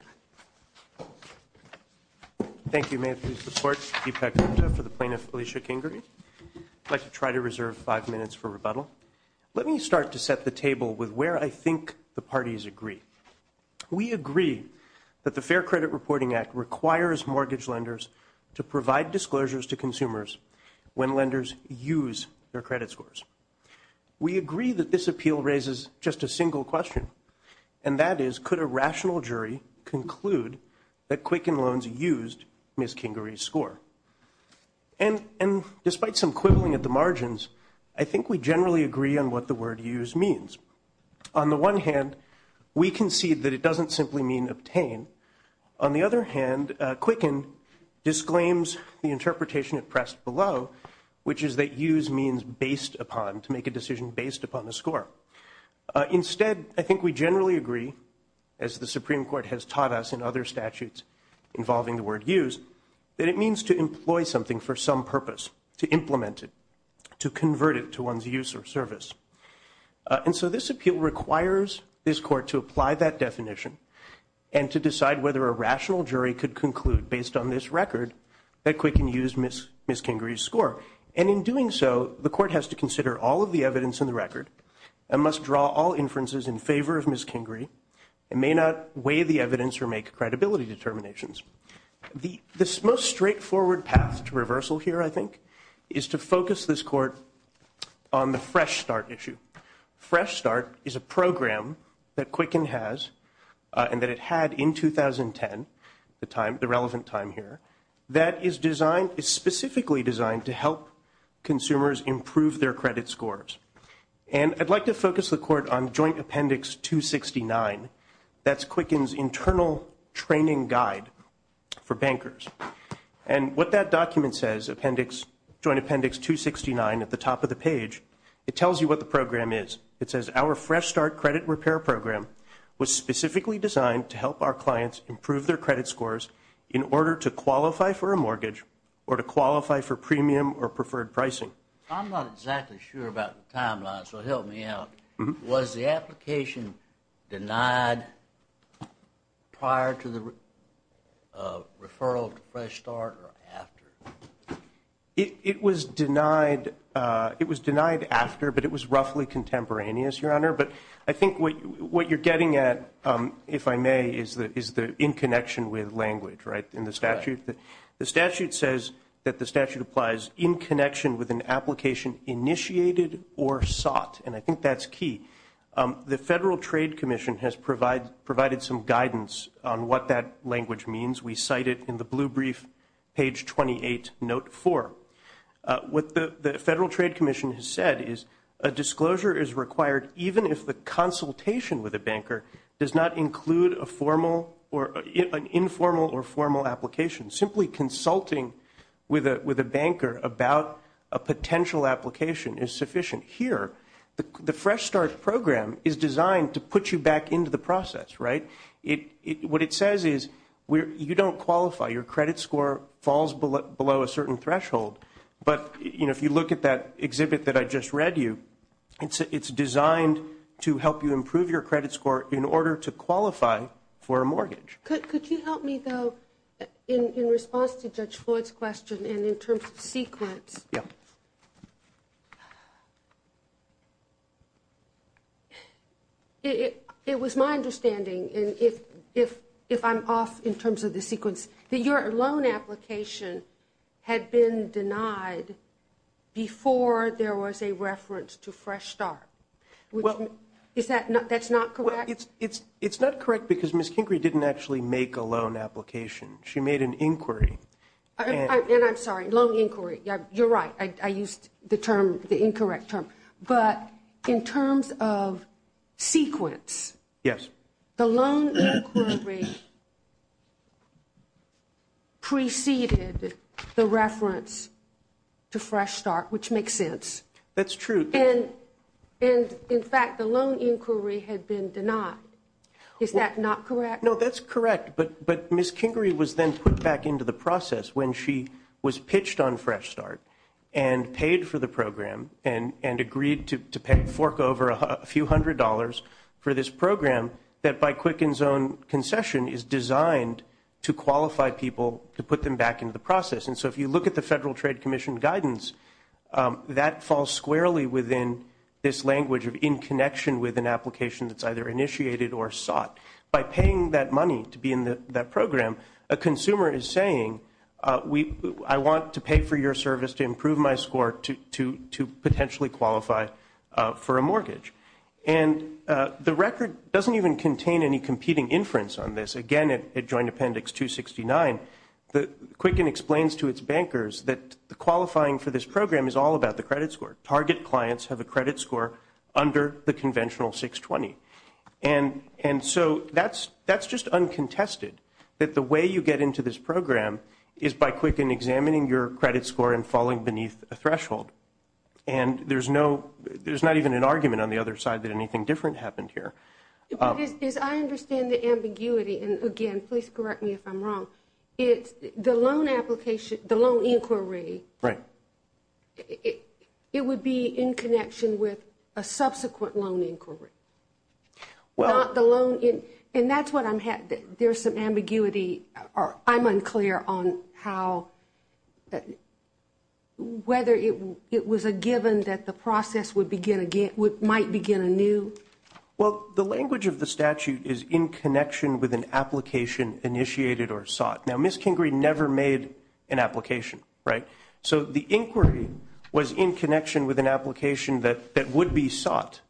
Fair Credit Reporting Act requires mortgage lenders to provide disclosures to consumers when lenders use their credit scores. We agree that this appeal raises just a single question, and that is, could a rational jury conclude that Quicken Loans used Ms. Kingery's score? And despite some quibbling at the margins, I think we generally agree on what the word used means. On the one hand, we concede that it doesn't simply mean obtain. On the other hand, Quicken disclaims the interpretation it pressed below, which is that used means based upon, to make a decision based upon the score. Instead, I think we generally agree, as the Supreme Court has taught us in other statutes involving the word used, that it means to employ something for some purpose, to implement it, to convert it to one's use or service. And so this appeal requires this court to apply that definition, and to decide whether a rational jury could conclude, based on this record, that Quicken used Ms. Kingery's score. And in doing so, the court has to consider all of the evidence in the record, and must draw all inferences in favor of Ms. Kingery, and may not weigh the evidence or make credibility determinations. This most straightforward path to reversal here, I think, is to focus this court on the Fresh Start issue. Fresh Start is a program that Quicken has, and that it had in 2010, the time, the relevant time here, that is designed, is specifically designed to help consumers improve their credit scores. And I'd like to focus the court on Joint Appendix 269. That's Quicken's internal training guide for bankers. And what that document says, Appendix, Joint Appendix 269, at the top of the page, it tells you what the program is. It says, our Fresh Start credit repair program was specifically designed to help our clients improve their credit scores in order to qualify for a mortgage, or to qualify for premium or preferred pricing. I'm not exactly sure about the timeline, so help me out. Was the application denied prior to the referral to Fresh Start or after? It was denied after, but it was roughly contemporaneous, Your Honor. But I think what you're getting at, if I may, is the in connection with language, right, in the statute. The statute says that the statute applies in connection with an application initiated or sought. And I think that's key. The Federal Trade Commission has provided some guidance on what that language means. We cite it in the blue brief, page 28, note 4. What the Federal Trade Commission has said is a disclosure is required even if the consultation with a banker does not include an informal or formal application. Simply consulting with a banker about a potential application is sufficient. Here, the Fresh Start program is designed to put you back into the process, right? What it says is you don't qualify. Your credit score falls below a certain threshold. But if you look at that exhibit that I just read you, it's designed to help you improve your credit score in order to qualify for a mortgage. Could you help me, though, in response to Judge Floyd's question and in terms of sequence? Yeah. It was my understanding, and if I'm off in terms of the sequence, that your loan application had been denied before there was a reference to Fresh Start. Is that not correct? Well, it's not correct because Ms. Kinkery didn't actually make a loan application. She made an inquiry. And I'm sorry, loan inquiry. You're right. I used the term, the incorrect term. But in terms of sequence. Yes. The loan inquiry preceded the reference to Fresh Start, which makes sense. That's true. And, in fact, the loan inquiry had been denied. Is that not correct? No, that's correct. But Ms. Kinkery was then put back into the process when she was pitched on Fresh Start and paid for the program and agreed to fork over a few hundred dollars for this program that, by Quicken's own concession, is designed to qualify people to put them back into the process. And so if you look at the Federal Trade Commission guidance, that falls squarely within this language of in connection with an application that's either initiated or sought. By paying that money to be in that program, a consumer is saying, I want to pay for your service to improve my score to potentially qualify for a mortgage. And the record doesn't even contain any competing inference on this. Again, at Joint Appendix 269, Quicken explains to its bankers that qualifying for this program is all about the credit score. Target clients have a credit score under the conventional 620. And so that's just uncontested, that the way you get into this program is by Quicken examining your credit score and falling beneath a threshold. And there's not even an argument on the other side that anything different happened here. But as I understand the ambiguity, and again, please correct me if I'm wrong, the loan application, the loan inquiry, it would be in connection with a subsequent loan inquiry. And that's what I'm, there's some ambiguity, or I'm unclear on how, whether it was a given that the process would begin again, might begin anew. Well, the language of the statute is in connection with an application initiated or sought. Now, Ms. Kingree never made an application, right? So the inquiry was in connection with an application that would be sought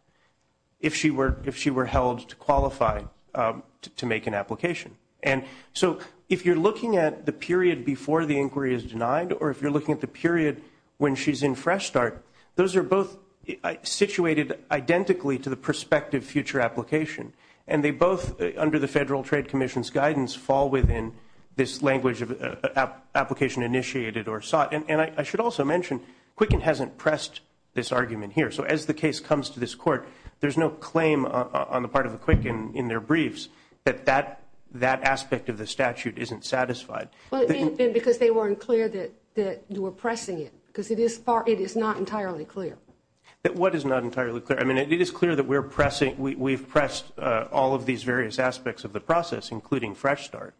if she were held to qualify to make an application. And so if you're looking at the period before the inquiry is denied, or if you're looking at the period when she's in Fresh Start, those are both situated identically to the prospective future application. And they both, under the Federal Trade Commission's guidance, fall within this language of application initiated or sought. And I should also mention, Quicken hasn't pressed this argument here. So as the case comes to this court, there's no claim on the part of the Quicken in their briefs that that aspect of the statute isn't satisfied. Well, it may have been because they weren't clear that you were pressing it, because it is not entirely clear. What is not entirely clear? I mean, it is clear that we're pressing, we've pressed all of these various aspects of the process, including Fresh Start.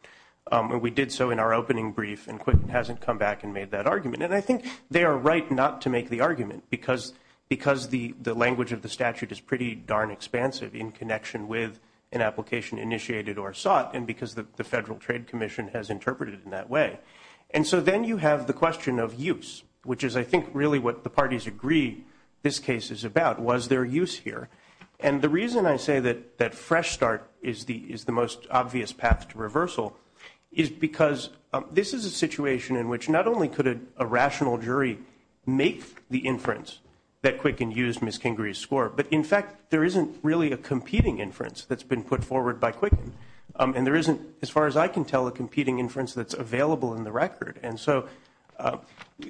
And we did so in our opening brief, and Quicken hasn't come back and made that argument. And I think they are right not to make the argument, because the language of the statute is pretty darn expansive in connection with an application initiated or sought, and because the Federal Trade Commission has interpreted it in that way. And so then you have the question of use, which is, I think, really what the parties agree this case is about. Was there use here? And the reason I say that Fresh Start is the most obvious path to reversal is because this is a situation in which not only could a rational jury make the inference that Quicken used Ms. Kingery's score, but, in fact, there isn't really a competing inference that's been put forward by Quicken. And there isn't, as far as I can tell, a competing inference that's available in the record. And so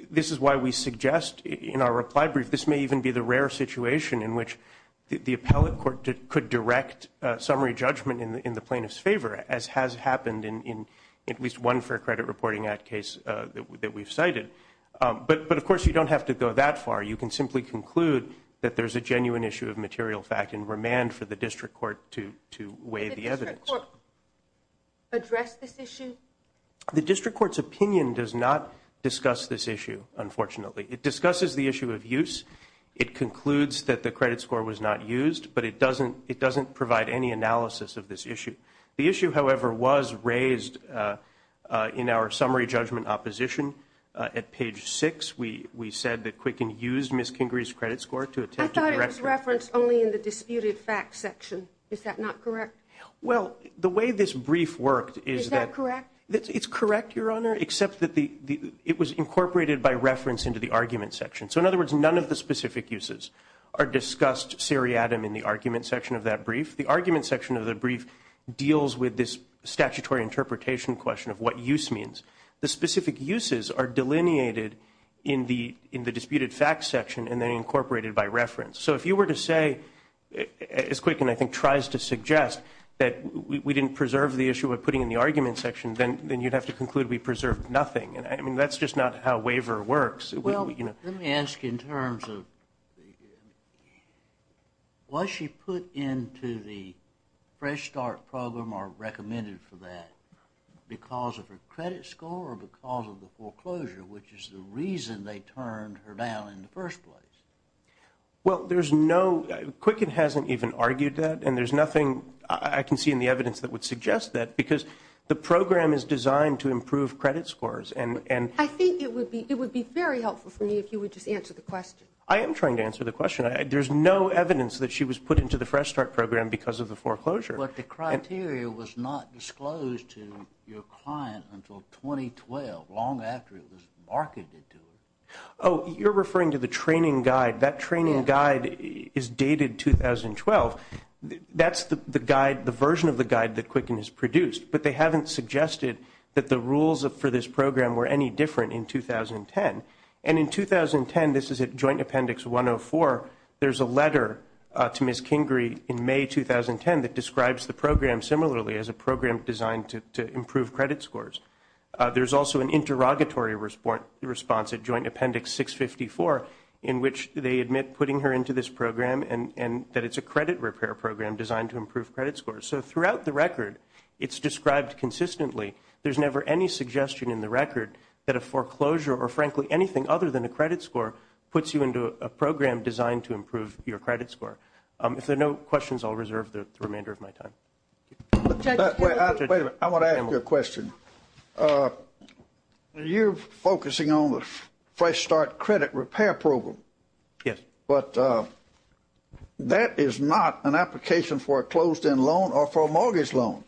this is why we suggest in our reply brief this may even be the rare situation in which the appellate court could direct summary judgment in the plaintiff's favor, as has happened in at least one Fair Credit Reporting Act case that we've cited. But, of course, you don't have to go that far. You can simply conclude that there's a genuine issue of material fact and remand for the district court to weigh the evidence. Did the district court address this issue? The district court's opinion does not discuss this issue, unfortunately. It discusses the issue of use. It concludes that the credit score was not used, but it doesn't provide any analysis of this issue. The issue, however, was raised in our summary judgment opposition. At page 6, we said that Quicken used Ms. Kingery's credit score to attempt to correct it. I thought it was referenced only in the disputed facts section. Is that not correct? Well, the way this brief worked is that- Is that correct? It's correct, Your Honor, except that it was incorporated by reference into the argument section. So, in other words, none of the specific uses are discussed seriatim in the argument section of that brief. The argument section of the brief deals with this statutory interpretation question of what use means. The specific uses are delineated in the disputed facts section and then incorporated by reference. So, if you were to say, as Quicken, I think, tries to suggest, that we didn't preserve the issue we're putting in the argument section, then you'd have to conclude we preserved nothing. I mean, that's just not how waiver works. Well, let me ask in terms of was she put into the Fresh Start program or recommended for that because of her credit score or because of the foreclosure, which is the reason they turned her down in the first place? Well, there's no-Quicken hasn't even argued that, and there's nothing I can see in the evidence that would suggest that because the program is designed to improve credit scores and- I think it would be very helpful for me if you would just answer the question. I am trying to answer the question. There's no evidence that she was put into the Fresh Start program because of the foreclosure. But the criteria was not disclosed to your client until 2012, long after it was marketed to her. Oh, you're referring to the training guide. That training guide is dated 2012. That's the guide, the version of the guide that Quicken has produced. But they haven't suggested that the rules for this program were any different in 2010. And in 2010, this is at Joint Appendix 104, there's a letter to Ms. Kingrey in May 2010 that describes the program similarly as a program designed to improve credit scores. There's also an interrogatory response at Joint Appendix 654 in which they admit putting her into this program and that it's a credit repair program designed to improve credit scores. So throughout the record, it's described consistently. There's never any suggestion in the record that a foreclosure or, frankly, anything other than a credit score puts you into a program designed to improve your credit score. If there are no questions, I'll reserve the remainder of my time. Wait a minute. I want to ask you a question. You're focusing on the Fresh Start Credit Repair Program. Yes. But that is not an application for a closed-end loan or for a mortgage loan.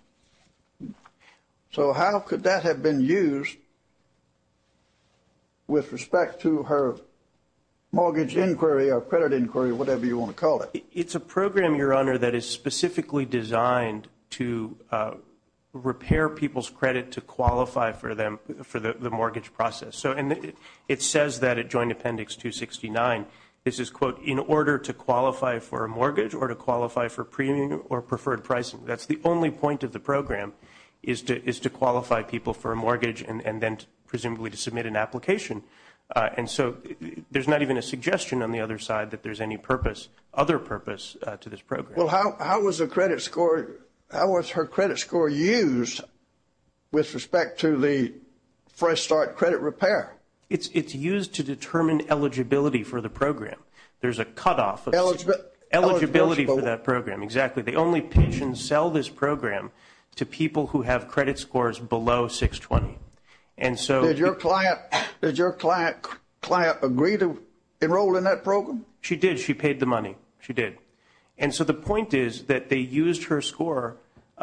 So how could that have been used with respect to her mortgage inquiry or credit inquiry, whatever you want to call it? It's a program, Your Honor, that is specifically designed to repair people's credit to qualify for the mortgage process. And it says that at Joint Appendix 269, this is, quote, in order to qualify for a mortgage or to qualify for premium or preferred pricing. That's the only point of the program is to qualify people for a mortgage and then presumably to submit an application. And so there's not even a suggestion on the other side that there's any purpose, other purpose, to this program. Well, how was her credit score used with respect to the Fresh Start Credit Repair? It's used to determine eligibility for the program. There's a cutoff of eligibility for that program. Exactly. The only patients sell this program to people who have credit scores below 620. Did your client agree to enroll in that program? She did. She paid the money. She did. And so the point is that they used her score.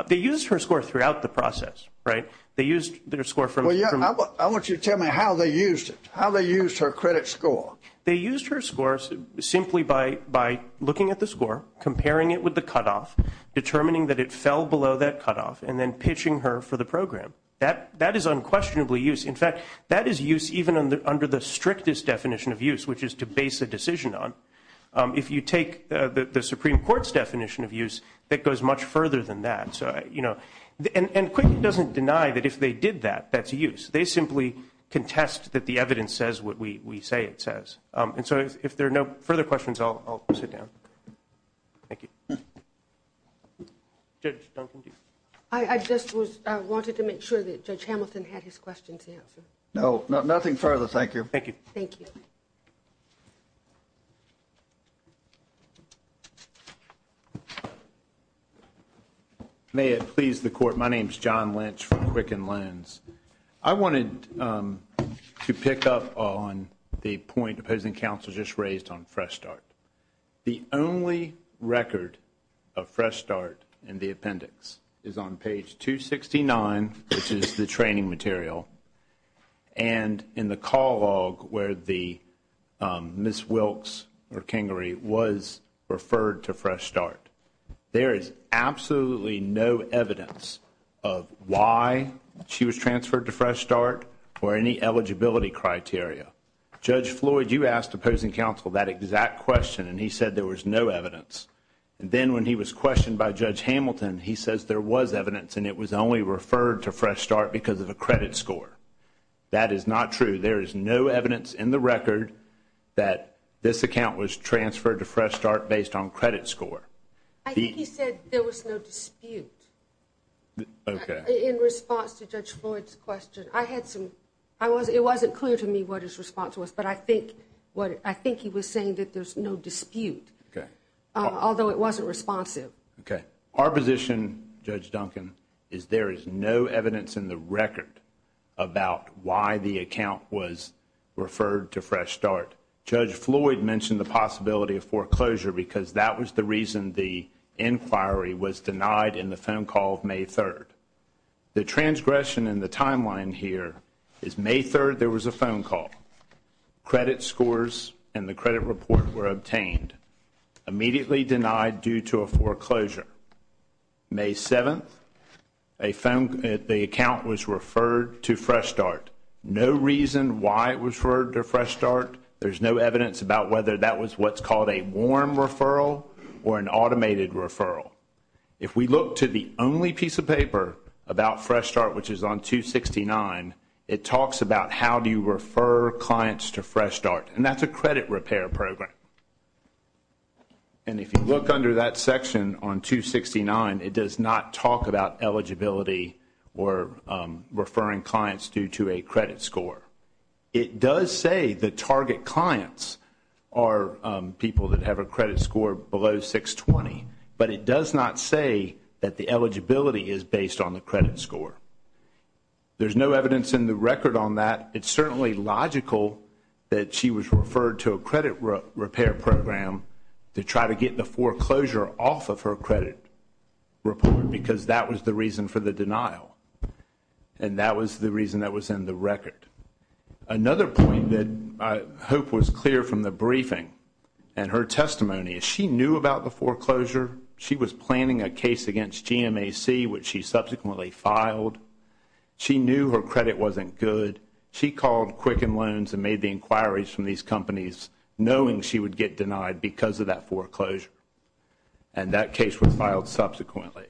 They used her score throughout the process, right? They used their score from – Well, yeah. I want you to tell me how they used it, how they used her credit score. They used her score simply by looking at the score, comparing it with the cutoff, determining that it fell below that cutoff, and then pitching her for the program. That is unquestionably use. In fact, that is use even under the strictest definition of use, which is to base a decision on. If you take the Supreme Court's definition of use, that goes much further than that. And Quicken doesn't deny that if they did that, that's use. They simply contest that the evidence says what we say it says. And so if there are no further questions, I'll sit down. Thank you. Judge Duncan-Dee. I just wanted to make sure that Judge Hamilton had his questions answered. No, nothing further. Thank you. Thank you. May it please the Court, my name is John Lynch from Quicken Loans. I wanted to pick up on the point opposing counsel just raised on Fresh Start. The only record of Fresh Start in the appendix is on page 269, which is the training material, and in the call log where the Ms. Wilkes or Kangary was referred to Fresh Start. There is absolutely no evidence of why she was transferred to Fresh Start or any eligibility criteria. Judge Floyd, you asked opposing counsel that exact question, and he said there was no evidence. And then when he was questioned by Judge Hamilton, he says there was evidence, and it was only referred to Fresh Start because of a credit score. That is not true. There is no evidence in the record that this account was transferred to Fresh Start based on credit score. I think he said there was no dispute in response to Judge Floyd's question. It wasn't clear to me what his response was, but I think he was saying that there's no dispute, although it wasn't responsive. Our position, Judge Duncan, is there is no evidence in the record about why the account was referred to Fresh Start. Judge Floyd mentioned the possibility of foreclosure because that was the reason the inquiry was denied in the phone call of May 3rd. The transgression in the timeline here is May 3rd there was a phone call. Credit scores and the credit report were obtained. Immediately denied due to a foreclosure. May 7th, the account was referred to Fresh Start. No reason why it was referred to Fresh Start. There's no evidence about whether that was what's called a warm referral or an automated referral. If we look to the only piece of paper about Fresh Start, which is on 269, it talks about how do you refer clients to Fresh Start. That's a credit repair program. If you look under that section on 269, it does not talk about eligibility or referring clients due to a credit score. It does say the target clients are people that have a credit score below 620, but it does not say that the eligibility is based on the credit score. There's no evidence in the record on that. It's certainly logical that she was referred to a credit repair program to try to get the foreclosure off of her credit report because that was the reason for the denial, and that was the reason that was in the record. Another point that I hope was clear from the briefing and her testimony, is she knew about the foreclosure. She was planning a case against GMAC, which she subsequently filed. She knew her credit wasn't good. She called Quicken Loans and made the inquiries from these companies, knowing she would get denied because of that foreclosure, and that case was filed subsequently.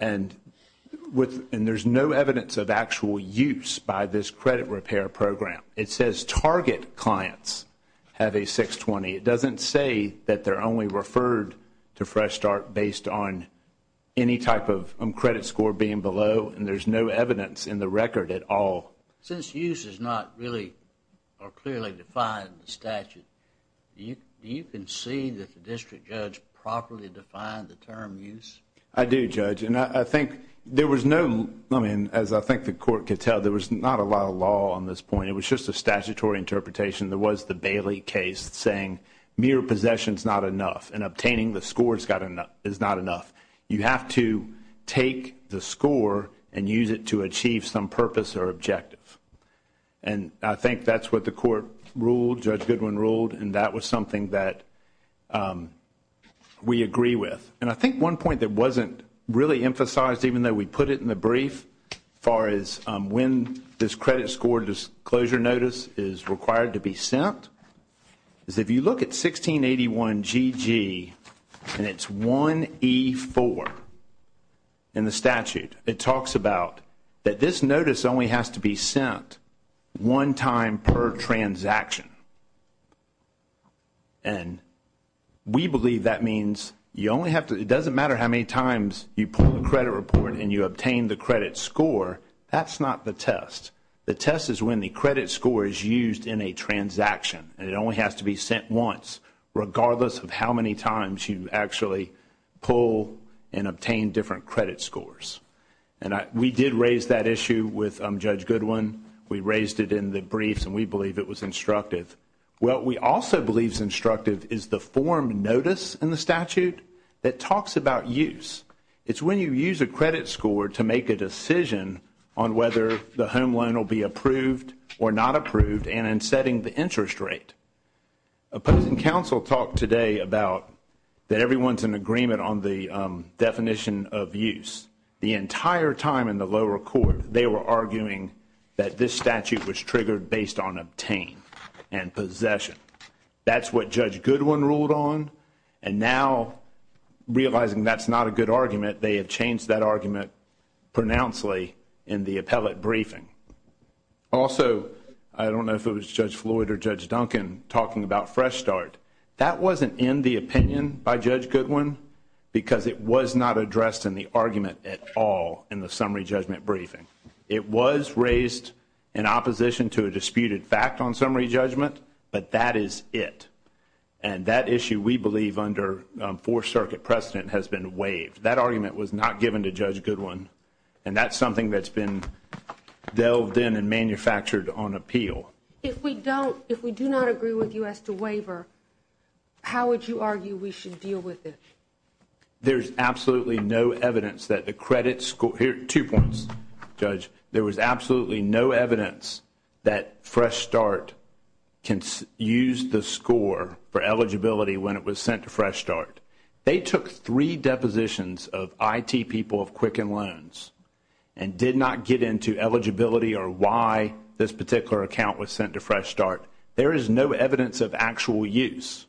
There's no evidence of actual use by this credit repair program. It says target clients have a 620. It doesn't say that they're only referred to Fresh Start based on any type of credit score being below, and there's no evidence in the record at all. Since use is not really or clearly defined in the statute, do you concede that the district judge properly defined the term use? I do, Judge, and I think there was no, I mean, as I think the court could tell, there was not a lot of law on this point. It was just a statutory interpretation. There was the Bailey case saying mere possession is not enough, and obtaining the score is not enough. You have to take the score and use it to achieve some purpose or objective, and I think that's what the court ruled, Judge Goodwin ruled, and that was something that we agree with. And I think one point that wasn't really emphasized, even though we put it in the brief, as far as when this credit score disclosure notice is required to be sent, is if you look at 1681 GG and it's 1E4 in the statute, it talks about that this notice only has to be sent one time per transaction, and we believe that means you only have to, it doesn't matter how many times you pull the credit report and you obtain the credit score, that's not the test. The test is when the credit score is used in a transaction, and it only has to be sent once, regardless of how many times you actually pull and obtain different credit scores. And we did raise that issue with Judge Goodwin. We raised it in the briefs, and we believe it was instructive. What we also believe is instructive is the form notice in the statute that talks about use. It's when you use a credit score to make a decision on whether the home loan will be approved or not approved and in setting the interest rate. Opposing counsel talked today about that everyone's in agreement on the definition of use. The entire time in the lower court, they were arguing that this statute was triggered based on obtain, and possession. That's what Judge Goodwin ruled on, and now realizing that's not a good argument, they have changed that argument pronouncedly in the appellate briefing. Also, I don't know if it was Judge Floyd or Judge Duncan talking about fresh start. That wasn't in the opinion by Judge Goodwin because it was not addressed in the argument at all in the summary judgment briefing. It was raised in opposition to a disputed fact on summary judgment, but that is it. And that issue we believe under Fourth Circuit precedent has been waived. That argument was not given to Judge Goodwin, and that's something that's been delved in and manufactured on appeal. If we do not agree with you as to waiver, how would you argue we should deal with it? There's absolutely no evidence that the credit score. Here are two points, Judge. There was absolutely no evidence that fresh start used the score for eligibility when it was sent to fresh start. They took three depositions of IT people of Quicken Loans and did not get into eligibility or why this particular account was sent to fresh start. There is no evidence of actual use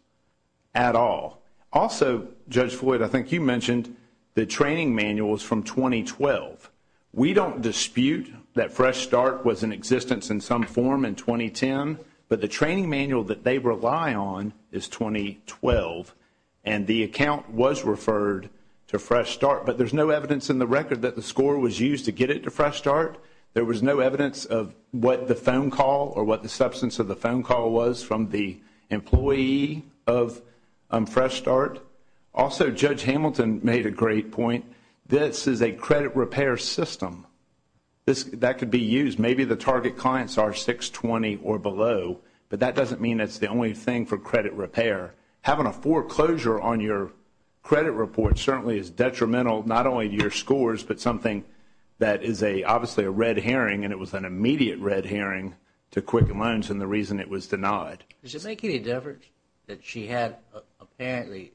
at all. Also, Judge Floyd, I think you mentioned the training manuals from 2012. We don't dispute that fresh start was in existence in some form in 2010, but the training manual that they rely on is 2012, and the account was referred to fresh start. But there's no evidence in the record that the score was used to get it to fresh start. There was no evidence of what the phone call or what the substance of the phone call was from the employee of fresh start. Also, Judge Hamilton made a great point. This is a credit repair system. That could be used. Maybe the target clients are 620 or below, but that doesn't mean it's the only thing for credit repair. Having a foreclosure on your credit report certainly is detrimental not only to your scores, but something that is obviously a red herring, and it was an immediate red herring to Quicken Loans and the reason it was denied. Does it make any difference that she had apparently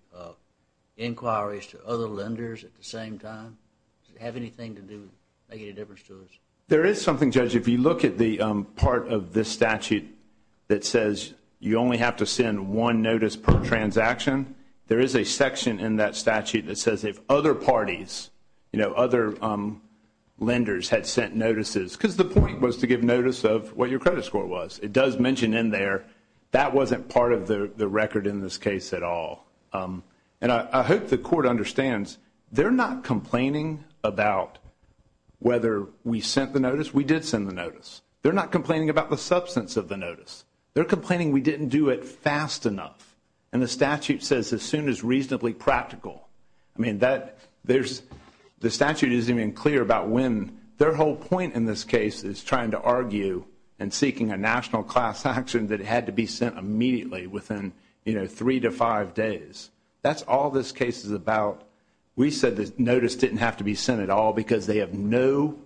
inquiries to other lenders at the same time? Does it have anything to do with making a difference to us? There is something, Judge. If you look at the part of this statute that says you only have to send one notice per transaction, there is a section in that statute that says if other parties, you know, other lenders had sent notices, because the point was to give notice of what your credit score was. It does mention in there that wasn't part of the record in this case at all, and I hope the Court understands they're not complaining about whether we sent the notice. We did send the notice. They're not complaining about the substance of the notice. They're complaining we didn't do it fast enough, and the statute says as soon as reasonably practical. I mean, the statute isn't even clear about when. Their whole point in this case is trying to argue and seeking a national class action that had to be sent immediately within, you know, three to five days. That's all this case is about. We said the notice didn't have to be sent at all because they have none,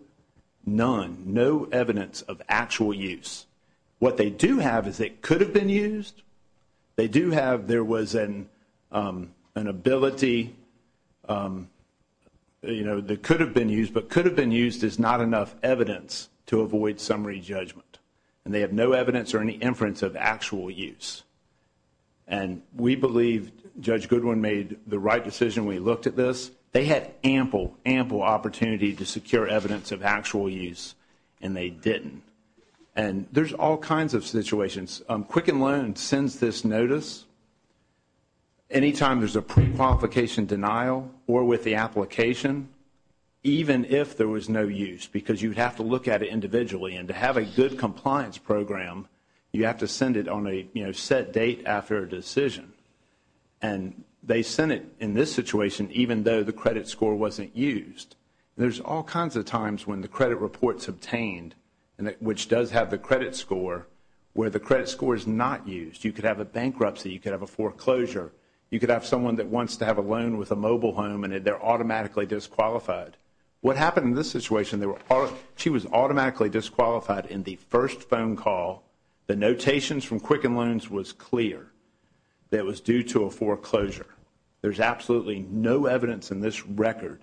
no evidence of actual use. What they do have is it could have been used. They do have there was an ability, you know, that could have been used, but could have been used is not enough evidence to avoid summary judgment, and they have no evidence or any inference of actual use, and we believe Judge Goodwin made the right decision when he looked at this. They had ample, ample opportunity to secure evidence of actual use, and they didn't, and there's all kinds of situations. Quicken Loan sends this notice anytime there's a qualification denial or with the application, even if there was no use because you'd have to look at it individually, and to have a good compliance program, you have to send it on a, you know, set date after a decision, and they sent it in this situation even though the credit score wasn't used. There's all kinds of times when the credit report's obtained, which does have the credit score, where the credit score is not used. You could have a bankruptcy. You could have a foreclosure. You could have someone that wants to have a loan with a mobile home, and they're automatically disqualified. What happened in this situation, she was automatically disqualified in the first phone call. The notations from Quicken Loans was clear that it was due to a foreclosure. There's absolutely no evidence in this record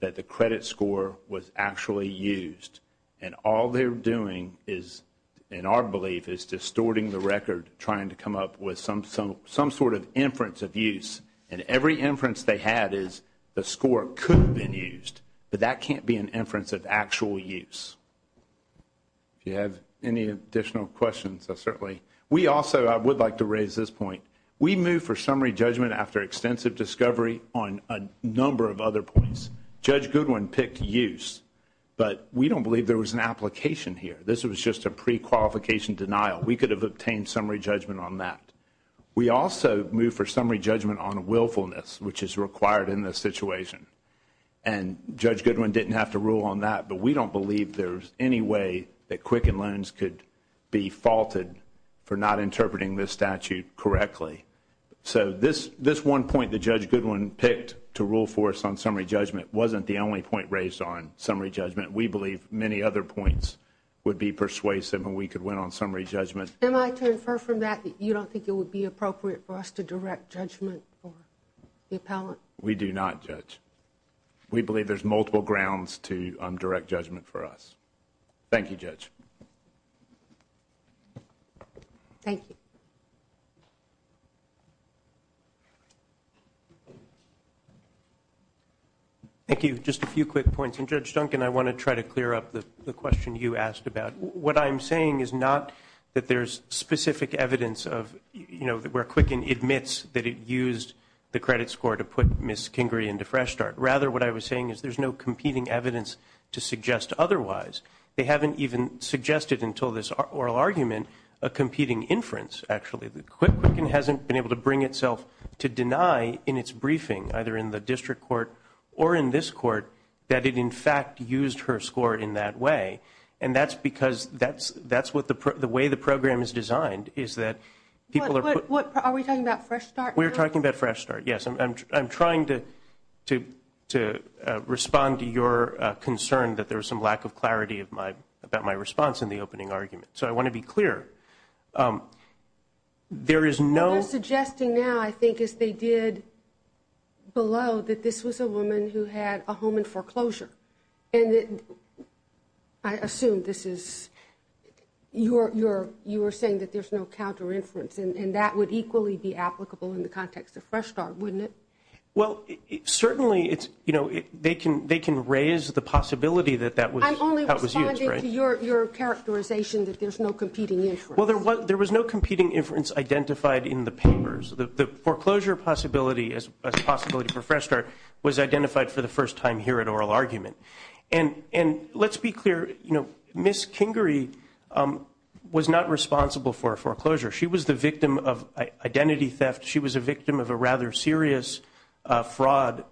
that the credit score was actually used, and all they're doing is, in our belief, is distorting the record, trying to come up with some sort of inference of use, and every inference they had is the score could have been used, but that can't be an inference of actual use. If you have any additional questions, I certainly. We also, I would like to raise this point. We move for summary judgment after extensive discovery on a number of other points. Judge Goodwin picked use, but we don't believe there was an application here. This was just a prequalification denial. We could have obtained summary judgment on that. We also move for summary judgment on willfulness, which is required in this situation, and Judge Goodwin didn't have to rule on that, but we don't believe there's any way that Quicken Loans could be faulted for not interpreting this statute correctly. So this one point that Judge Goodwin picked to rule for us on summary judgment wasn't the only point raised on summary judgment. We believe many other points would be persuasive, and we could win on summary judgment. Am I to infer from that that you don't think it would be appropriate for us to direct judgment for the appellant? We do not, Judge. We believe there's multiple grounds to direct judgment for us. Thank you, Judge. Thank you. Thank you. Just a few quick points, and, Judge Duncan, I want to try to clear up the question you asked about. What I'm saying is not that there's specific evidence of, you know, where Quicken admits that it used the credit score to put Ms. Kingrey into Fresh Start. Rather, what I was saying is there's no competing evidence to suggest otherwise. They haven't even suggested until this oral argument a competing inference, actually. Quicken hasn't been able to bring itself to deny in its briefing, either in the district court or in this court, that it, in fact, used her score in that way. And that's because that's what the way the program is designed, is that people are put. Are we talking about Fresh Start? We're talking about Fresh Start, yes. I'm trying to respond to your concern that there's some lack of clarity about my response in the opening argument. So I want to be clear. There is no. What they're suggesting now, I think, is they did below that this was a woman who had a home in foreclosure. And I assume this is, you were saying that there's no counter inference, and that would equally be applicable in the context of Fresh Start, wouldn't it? Well, certainly they can raise the possibility that that was used, right? I'm only responding to your characterization that there's no competing inference. Well, there was no competing inference identified in the papers. The foreclosure possibility as a possibility for Fresh Start was identified for the first time here at oral argument. And let's be clear. Ms. Kingrey was not responsible for foreclosure. She was the victim of identity theft. She was a victim of a rather serious fraud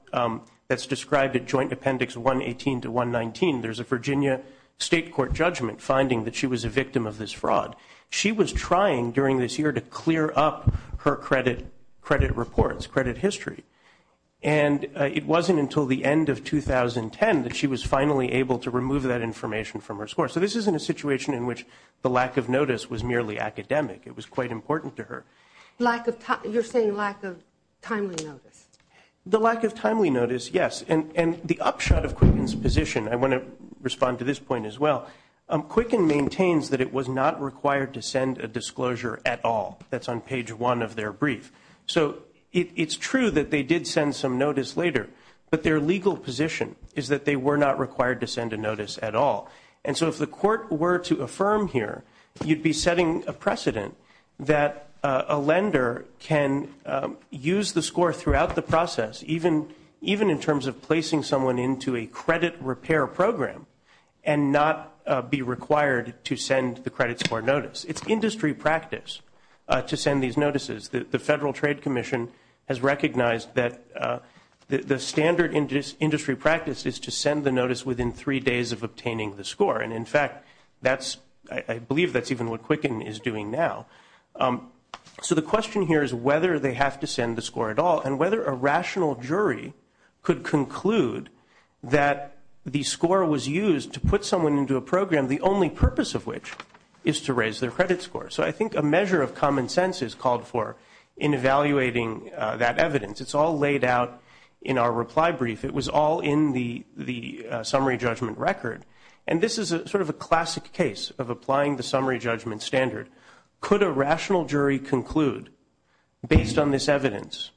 that's described at Joint Appendix 118 to 119. There's a Virginia state court judgment finding that she was a victim of this fraud. She was trying during this year to clear up her credit reports, credit history. And it wasn't until the end of 2010 that she was finally able to remove that information from her score. So this isn't a situation in which the lack of notice was merely academic. It was quite important to her. You're saying lack of timely notice. The lack of timely notice, yes. And the upshot of Quicken's position, I want to respond to this point as well, Quicken maintains that it was not required to send a disclosure at all. That's on page one of their brief. So it's true that they did send some notice later, but their legal position is that they were not required to send a notice at all. And so if the court were to affirm here, you'd be setting a precedent that a lender can use the score throughout the process, even in terms of placing someone into a credit repair program and not be required to send the credit score notice. It's industry practice to send these notices. The Federal Trade Commission has recognized that the standard industry practice is to send the notice within three days of obtaining the score. And, in fact, I believe that's even what Quicken is doing now. So the question here is whether they have to send the score at all and whether a rational jury could conclude that the score was used to put someone into a program, the only purpose of which is to raise their credit score. So I think a measure of common sense is called for in evaluating that evidence. It's all laid out in our reply brief. It was all in the summary judgment record. And this is sort of a classic case of applying the summary judgment standard. Could a rational jury conclude, based on this evidence,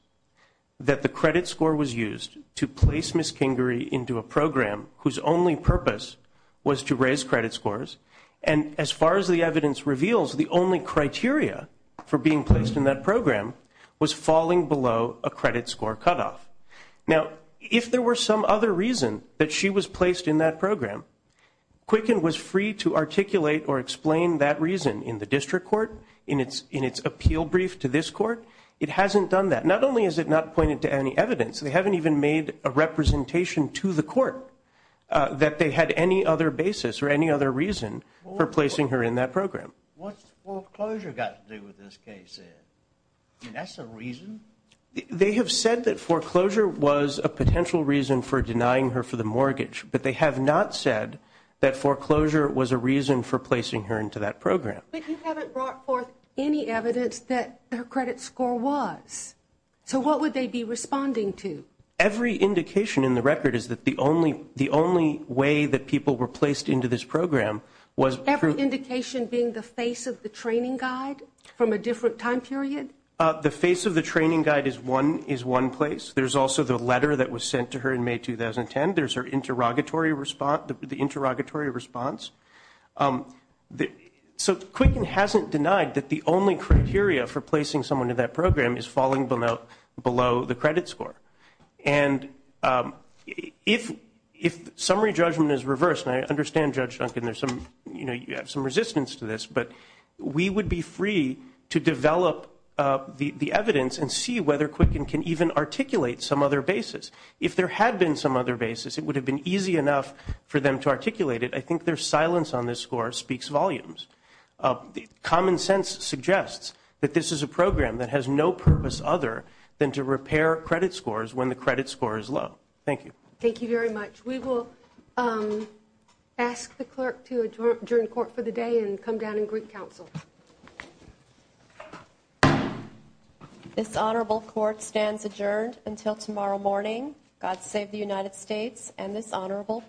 that the credit score was used to place Ms. Kingery into a program whose only purpose was to raise credit scores? And as far as the evidence reveals, the only criteria for being placed in that program was falling below a credit score cutoff. Now, if there were some other reason that she was placed in that program, Quicken was free to articulate or explain that reason in the district court, in its appeal brief to this court. It hasn't done that. Not only has it not pointed to any evidence, they haven't even made a representation to the court that they had any other basis or any other reason for placing her in that program. What's foreclosure got to do with this case? I mean, that's a reason? They have said that foreclosure was a potential reason for denying her for the mortgage, but they have not said that foreclosure was a reason for placing her into that program. But you haven't brought forth any evidence that her credit score was. So what would they be responding to? Every indication in the record is that the only way that people were placed into this program was- Every indication being the face of the training guide from a different time period? The face of the training guide is one place. There's also the letter that was sent to her in May 2010. There's her interrogatory response. So Quicken hasn't denied that the only criteria for placing someone in that program is falling below the credit score. And if summary judgment is reversed, and I understand, Judge Duncan, you have some resistance to this, but we would be free to develop the evidence and see whether Quicken can even articulate some other basis. If there had been some other basis, it would have been easy enough for them to articulate it. I think their silence on this score speaks volumes. Common sense suggests that this is a program that has no purpose other than to repair credit scores when the credit score is low. Thank you. Thank you very much. We will ask the clerk to adjourn court for the day and come down and greet counsel. This honorable court stands adjourned until tomorrow morning. God save the United States and this honorable court.